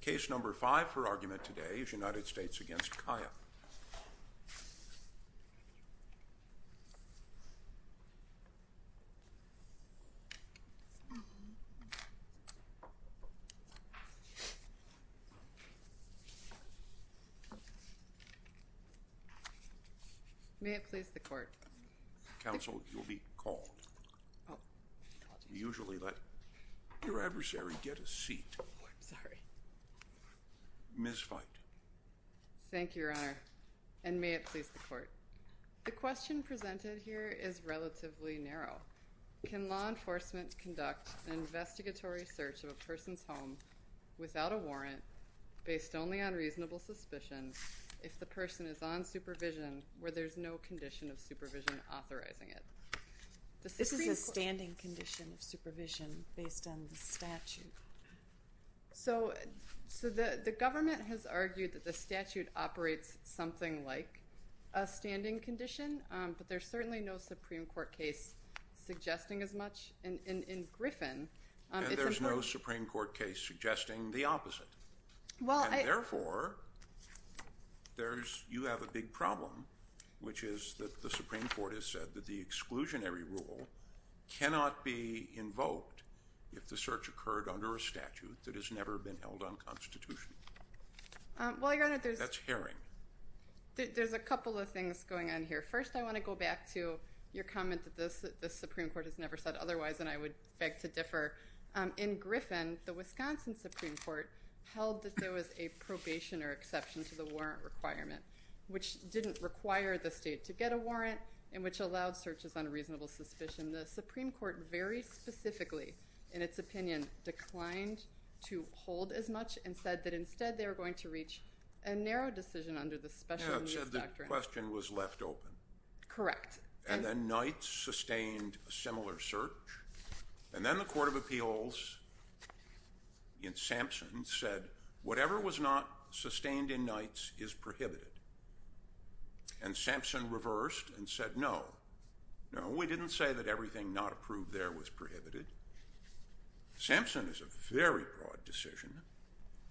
Case number five for argument today is United States v. Caya. May it please the court. Counsel, you will be called. Usually let your adversary get a seat. I'm sorry. Ms. Feit. Thank you, Your Honor, and may it please the court. The question presented here is relatively narrow. Can law enforcement conduct an investigatory search of a person's home without a warrant, based only on reasonable suspicion, if the person is on supervision where there is no condition of supervision authorizing it? This is a standing condition of supervision based on the statute. So the government has argued that the statute operates something like a standing condition, but there's certainly no Supreme Court case suggesting as much. In Griffin, it's important— And there's no Supreme Court case suggesting the opposite. Well, I— —cannot be invoked if the search occurred under a statute that has never been held unconstitutional. Well, Your Honor, there's— That's herring. There's a couple of things going on here. First, I want to go back to your comment that the Supreme Court has never said otherwise, and I would beg to differ. In Griffin, the Wisconsin Supreme Court held that there was a probation or exception to the warrant requirement, which didn't require the state to get a warrant and which allowed searches on a reasonable suspicion. The Supreme Court very specifically, in its opinion, declined to hold as much and said that instead they were going to reach a narrow decision under the special use doctrine. Yeah, it said the question was left open. Correct. And then Knights sustained a similar search, and then the Court of Appeals in Sampson said whatever was not sustained in Knights is prohibited. And Sampson reversed and said no. No, we didn't say that everything not approved there was prohibited. Sampson is a very broad decision,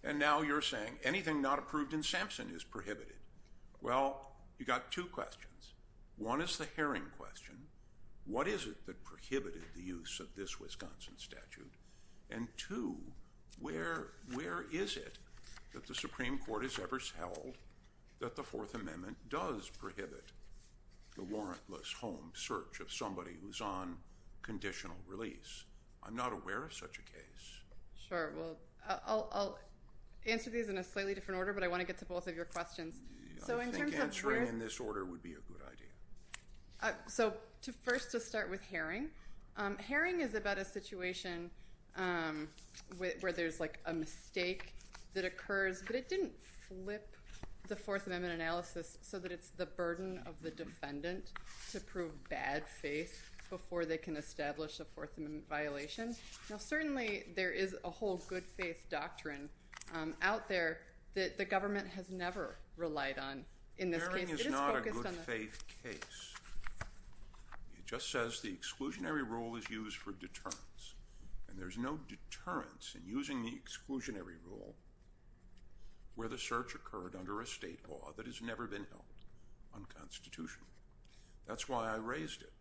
and now you're saying anything not approved in Sampson is prohibited. Well, you got two questions. One is the herring question. What is it that prohibited the use of this Wisconsin statute? And two, where is it that the Supreme Court has ever held that the Fourth Amendment does prohibit the warrantless home search of somebody who's on conditional release? I'm not aware of such a case. Sure. Well, I'll answer these in a slightly different order, but I want to get to both of your questions. I think answering in this order would be a good idea. So first to start with herring. Herring is about a situation where there's, like, a mistake that occurs, but it didn't flip the Fourth Amendment analysis so that it's the burden of the defendant to prove bad faith before they can establish a Fourth Amendment violation. Now, certainly there is a whole good faith doctrine out there that the government has never relied on in this case. Herring is not a good faith case. It just says the exclusionary rule is used for deterrence, and there's no deterrence in using the exclusionary rule where the search occurred under a state law that has never been held unconstitutional. That's why I raised it,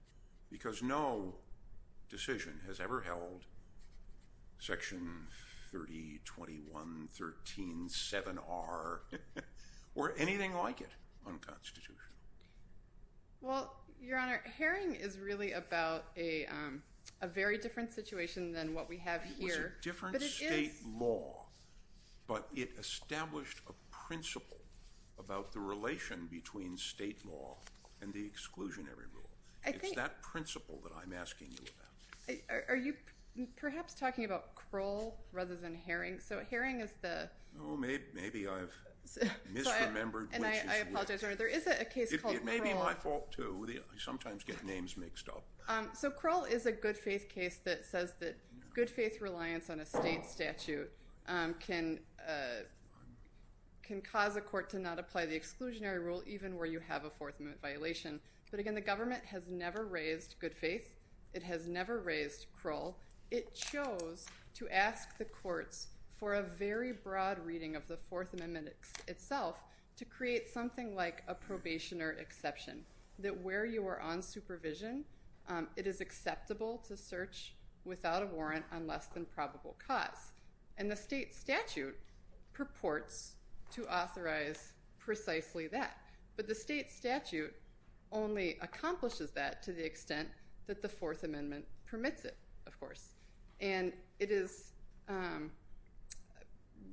because no decision has ever held Section 3021.13.7r or anything like it unconstitutional. Well, Your Honor, herring is really about a very different situation than what we have here. It was a different state law, but it established a principle about the relation between state law and the exclusionary rule. It's that principle that I'm asking you about. Are you perhaps talking about Kroll rather than herring? So herring is the... Oh, maybe I've misremembered which is which. I apologize, Your Honor. There is a case called Kroll. It may be my fault, too. I sometimes get names mixed up. So Kroll is a good faith case that says that good faith reliance on a state statute can cause a court to not apply the exclusionary rule even where you have a Fourth Amendment violation. But, again, the government has never raised good faith. It has never raised Kroll. It chose to ask the courts for a very broad reading of the Fourth Amendment itself to create something like a probationer exception, that where you are on supervision it is acceptable to search without a warrant on less than probable cause. And the state statute purports to authorize precisely that. But the state statute only accomplishes that to the extent that the Fourth Amendment permits it, of course. And it is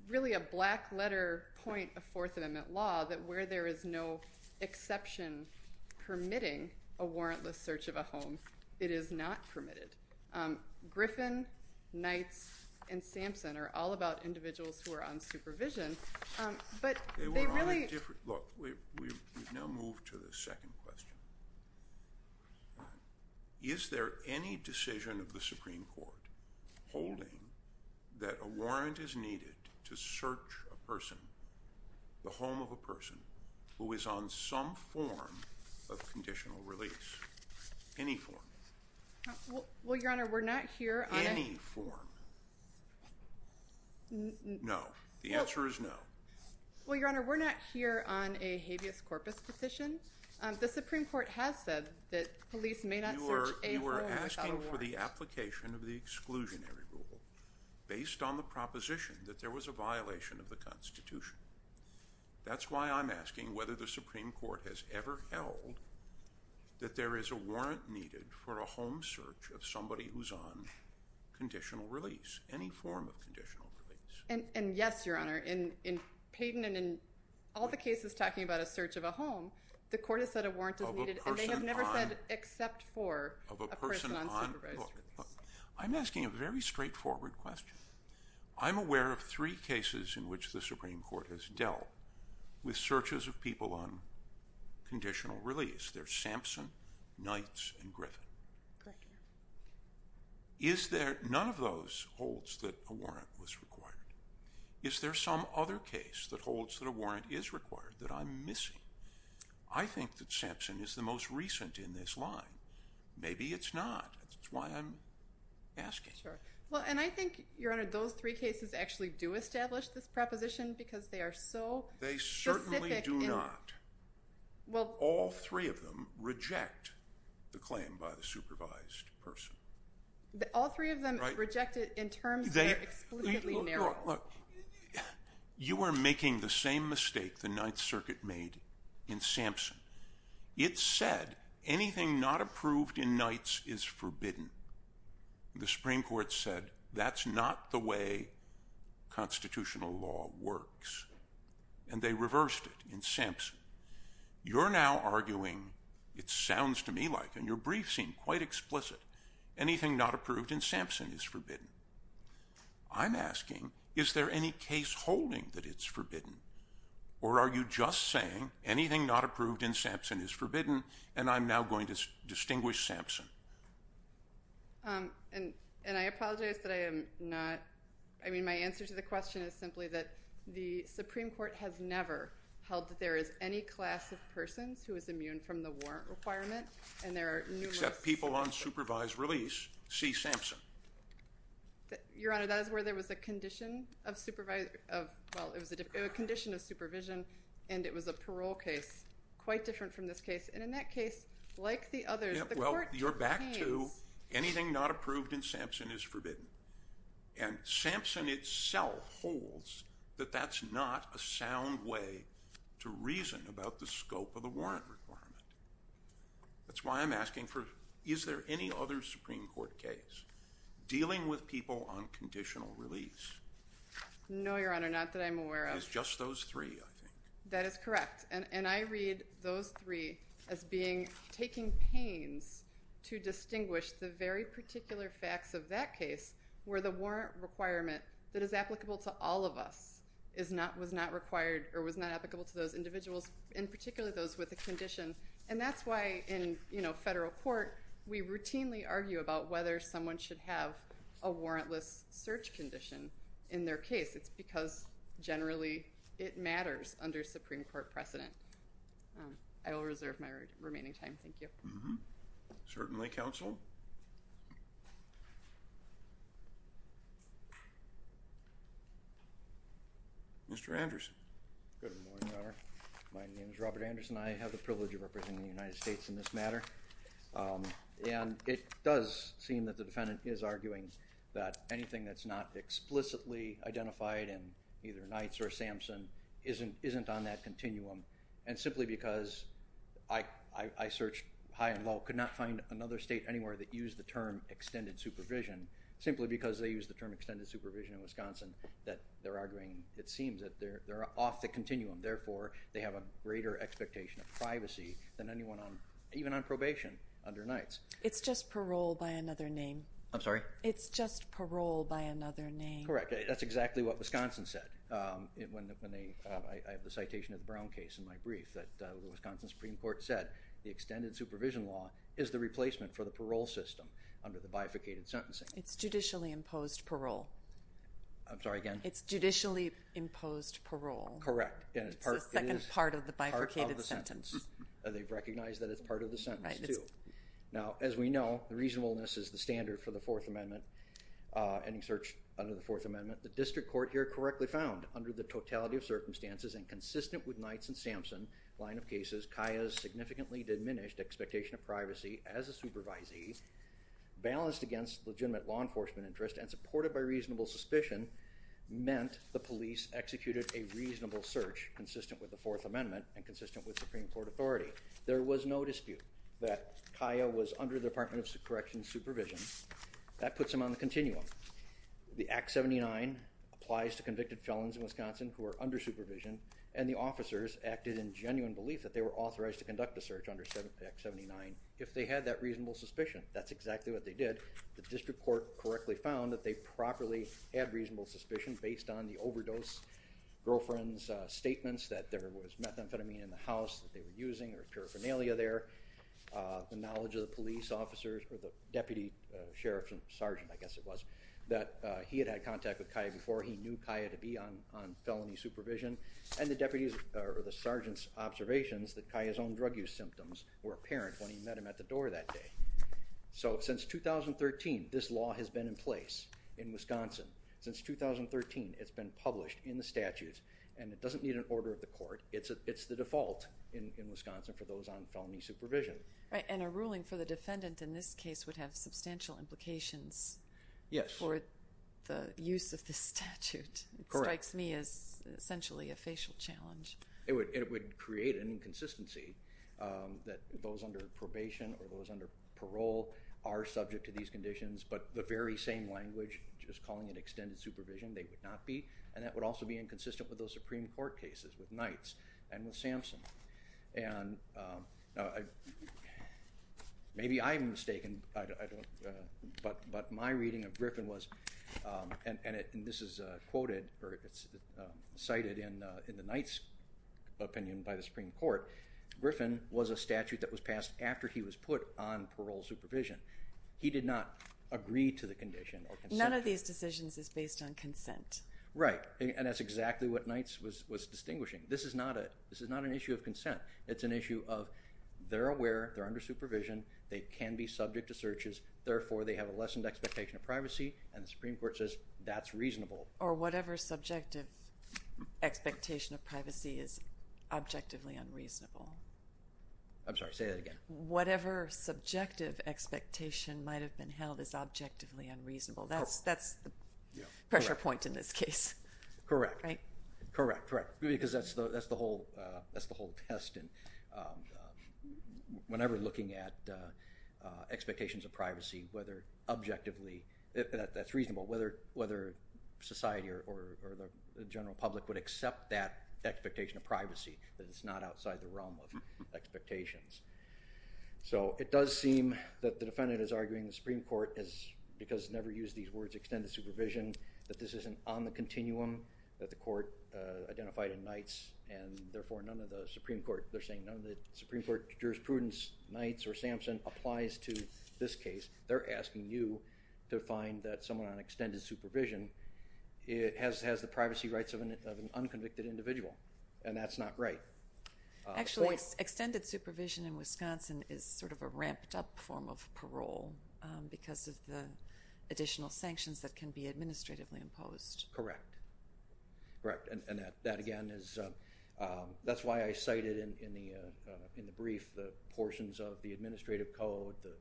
really a black letter point of Fourth Amendment law that where there is no exception permitting a warrantless search of a home, it is not permitted. Griffin, Knights, and Sampson are all about individuals who are on supervision. They were on a different – look, we've now moved to the second question. Is there any decision of the Supreme Court holding that a warrant is needed to search a person, the home of a person, who is on some form of conditional release? Any form. Well, Your Honor, we're not here on a – Any form. No. The answer is no. Well, Your Honor, we're not here on a habeas corpus position. The Supreme Court has said that police may not search a home without a warrant. You are asking for the application of the exclusionary rule based on the proposition that there was a violation of the Constitution. That's why I'm asking whether the Supreme Court has ever held that there is a warrant needed for a home search of somebody who's on conditional release. Any form of conditional release. And yes, Your Honor. In Payden and in all the cases talking about a search of a home, the court has said a warrant is needed. Of a person on – And they have never said except for a person on supervised release. Look, I'm asking a very straightforward question. I'm aware of three cases in which the Supreme Court has dealt with searches of people on conditional release. They're Sampson, Knights, and Griffin. Great. Is there – none of those holds that a warrant was required. Is there some other case that holds that a warrant is required that I'm missing? I think that Sampson is the most recent in this line. Maybe it's not. That's why I'm asking. Sure. Well, and I think, Your Honor, those three cases actually do establish this proposition because they are so specific in – They certainly do not. Well – All three of them reject the claim by the supervised person. All three of them reject it in terms that are explicitly narrow. Look, you are making the same mistake the Ninth Circuit made in Sampson. It said anything not approved in Knights is forbidden. The Supreme Court said that's not the way constitutional law works, and they reversed it in Sampson. You're now arguing, it sounds to me like, and your brief seemed quite explicit, anything not approved in Sampson is forbidden. I'm asking, is there any case holding that it's forbidden? Or are you just saying anything not approved in Sampson is forbidden, and I'm now going to distinguish Sampson? And I apologize that I am not – I mean, my answer to the question is simply that the Supreme Court has never held that there is any class of persons who is immune from the warrant requirement, and there are numerous – Except people on supervised release see Sampson. Your Honor, that is where there was a condition of supervision, and it was a parole case quite different from this case. And in that case, like the others, the court – Well, you're back to anything not approved in Sampson is forbidden. And Sampson itself holds that that's not a sound way to reason about the scope of the warrant requirement. That's why I'm asking, is there any other Supreme Court case dealing with people on conditional release? No, Your Honor, not that I'm aware of. It's just those three, I think. That is correct. And I read those three as being – taking pains to distinguish the very particular facts of that case where the warrant requirement that is applicable to all of us is not – was not required or was not applicable to those individuals, in particular those with a condition. And that's why in, you know, federal court, we routinely argue about whether someone should have a warrantless search condition in their case. It's because generally it matters under Supreme Court precedent. I will reserve my remaining time. Thank you. Certainly, counsel. Mr. Anderson. Good morning, Your Honor. My name is Robert Anderson. I have the privilege of representing the United States in this matter. And it does seem that the defendant is arguing that anything that's not explicitly identified in either Knights or Sampson isn't on that continuum. And simply because I searched high and low, could not find another state anywhere that used the term extended supervision, simply because they used the term extended supervision in Wisconsin, that they're arguing, it seems, that they're off the continuum. Therefore, they have a greater expectation of privacy than anyone on – even on probation under Knights. It's just parole by another name. I'm sorry? It's just parole by another name. Correct. That's exactly what Wisconsin said when they – I have the citation of the Brown case in my brief that the Wisconsin Supreme Court said the extended supervision law is the replacement for the parole system under the bifurcated sentencing. It's judicially imposed parole. I'm sorry again? It's judicially imposed parole. Correct. It's the second part of the bifurcated sentence. Part of the sentence. They've recognized that it's part of the sentence, too. Now, as we know, reasonableness is the standard for the Fourth Amendment, any search under the Fourth Amendment. The district court here correctly found, under the totality of circumstances and consistent with Knights and Sampson line of cases, Kaya's significantly diminished expectation of privacy as a supervisee, balanced against legitimate law enforcement interest, and supported by reasonable suspicion meant the police executed a reasonable search consistent with the Fourth Amendment and consistent with Supreme Court authority. There was no dispute that Kaya was under the Department of Corrections supervision. That puts them on the continuum. The Act 79 applies to convicted felons in Wisconsin who are under supervision, and the officers acted in genuine belief that they were authorized to conduct a search under Act 79 if they had that reasonable suspicion. That's exactly what they did. The district court correctly found that they properly had reasonable suspicion based on the overdose girlfriend's statements that there was methamphetamine in the house that they were using or paraphernalia there, the knowledge of the police officers or the deputy sheriff and sergeant, I guess it was, that he had had contact with Kaya before he knew Kaya to be on felony supervision, and the sergeant's observations that Kaya's own drug use symptoms were apparent when he met him at the door that day. So since 2013, this law has been in place in Wisconsin. Since 2013, it's been published in the statutes, and it doesn't need an order of the court. It's the default in Wisconsin for those on felony supervision. And a ruling for the defendant in this case would have substantial implications for the use of this statute. Correct. It strikes me as essentially a facial challenge. It would create an inconsistency that those under probation or those under parole are subject to these conditions, but the very same language, just calling it extended supervision, they would not be, and that would also be inconsistent with those Supreme Court cases with Knights and with Samson. And maybe I'm mistaken, but my reading of Griffin was, and this is quoted, or it's cited in the Knights' opinion by the Supreme Court, Griffin was a statute that was passed after he was put on parole supervision. He did not agree to the condition or consent. None of these decisions is based on consent. Right, and that's exactly what Knights was distinguishing. This is not an issue of consent. It's an issue of they're aware, they're under supervision, they can be subject to searches, therefore they have a lessened expectation of privacy, and the Supreme Court says that's reasonable. Or whatever subjective expectation of privacy is objectively unreasonable. I'm sorry, say that again. Whatever subjective expectation might have been held as objectively unreasonable. That's the pressure point in this case. Correct. Right? Correct, correct, because that's the whole test. Whenever looking at expectations of privacy, whether objectively, that's reasonable, whether society or the general public would accept that expectation of privacy, that it's not outside the realm of expectations. So it does seem that the defendant is arguing the Supreme Court, because never use these words, extended supervision, that this isn't on the continuum that the court identified in Knights, and therefore none of the Supreme Court, they're saying none of the Supreme Court jurisprudence, Knights or Sampson, applies to this case. They're asking you to find that someone on extended supervision has the privacy rights of an unconvicted individual, and that's not right. Actually, extended supervision in Wisconsin is sort of a ramped-up form of parole because of the additional sanctions that can be administratively imposed. Correct. Correct, and that again is, that's why I cited in the brief the portions of the administrative code, the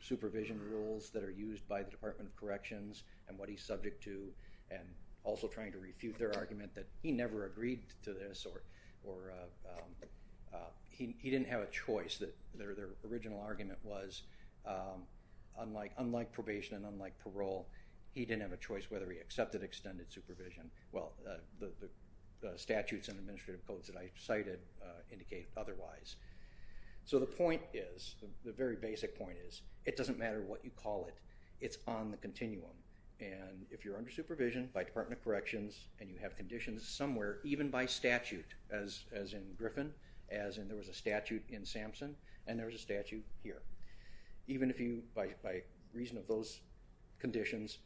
supervision rules that are used by the Department of Corrections and what he's subject to, and also trying to refute their argument that he never agreed to this, or he didn't have a choice. Their original argument was, unlike probation and unlike parole, he didn't have a choice whether he accepted extended supervision. Well, the statutes and administrative codes that I cited indicate otherwise. So the point is, the very basic point is, it doesn't matter what you call it. It's on the continuum, and if you're under supervision by Department of Corrections and you have conditions somewhere, even by statute, as in Griffin, as in there was a statute in Sampson, and there was a statute here. Even if you, by reason of those conditions,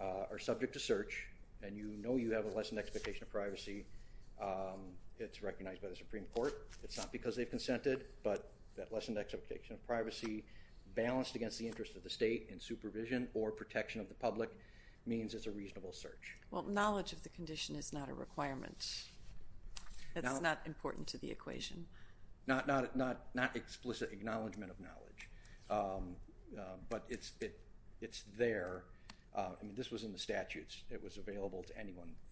are subject to search and you know you have a lessened expectation of privacy, it's recognized by the Supreme Court. It's not because they've consented, but that lessened expectation of privacy, balanced against the interest of the state in supervision or protection of the public, means it's a reasonable search. Well, knowledge of the condition is not a requirement. It's not important to the equation. Not explicit acknowledgment of knowledge, but it's there. I mean, this was in the statutes. It was available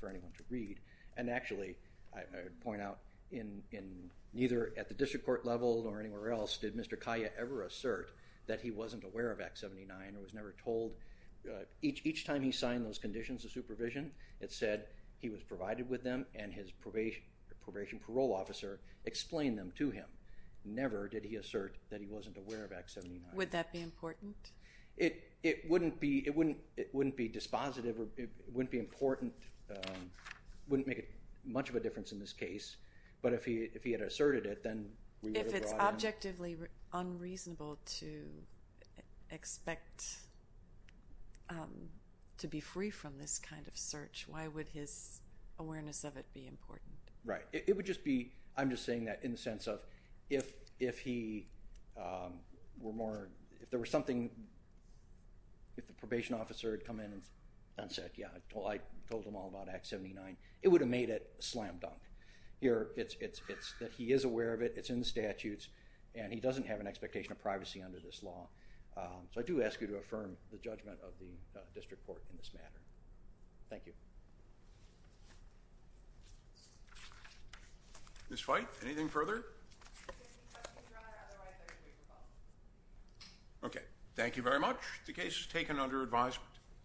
for anyone to read, and actually, I would point out, neither at the district court level nor anywhere else did Mr. Kaya ever assert that he wasn't aware of Act 79 or was never told. Each time he signed those conditions of supervision, it said he was provided with them and his probation parole officer explained them to him. Never did he assert that he wasn't aware of Act 79. Would that be important? It wouldn't be dispositive. It wouldn't be important. It wouldn't make much of a difference in this case. But if he had asserted it, then we would have brought it in. If it's objectively unreasonable to expect to be free from this kind of search, why would his awareness of it be important? Right. It would just be, I'm just saying that in the sense of if he were more, if there was something, if the probation officer had come in and said, yeah, I told them all about Act 79, it would have made it slam dunk. Here, it's that he is aware of it, it's in the statutes, and he doesn't have an expectation of privacy under this law. So I do ask you to affirm the judgment of the district court in this matter. Thank you. Ms. Feith, anything further? Okay. Thank you very much. The case is taken under advisement.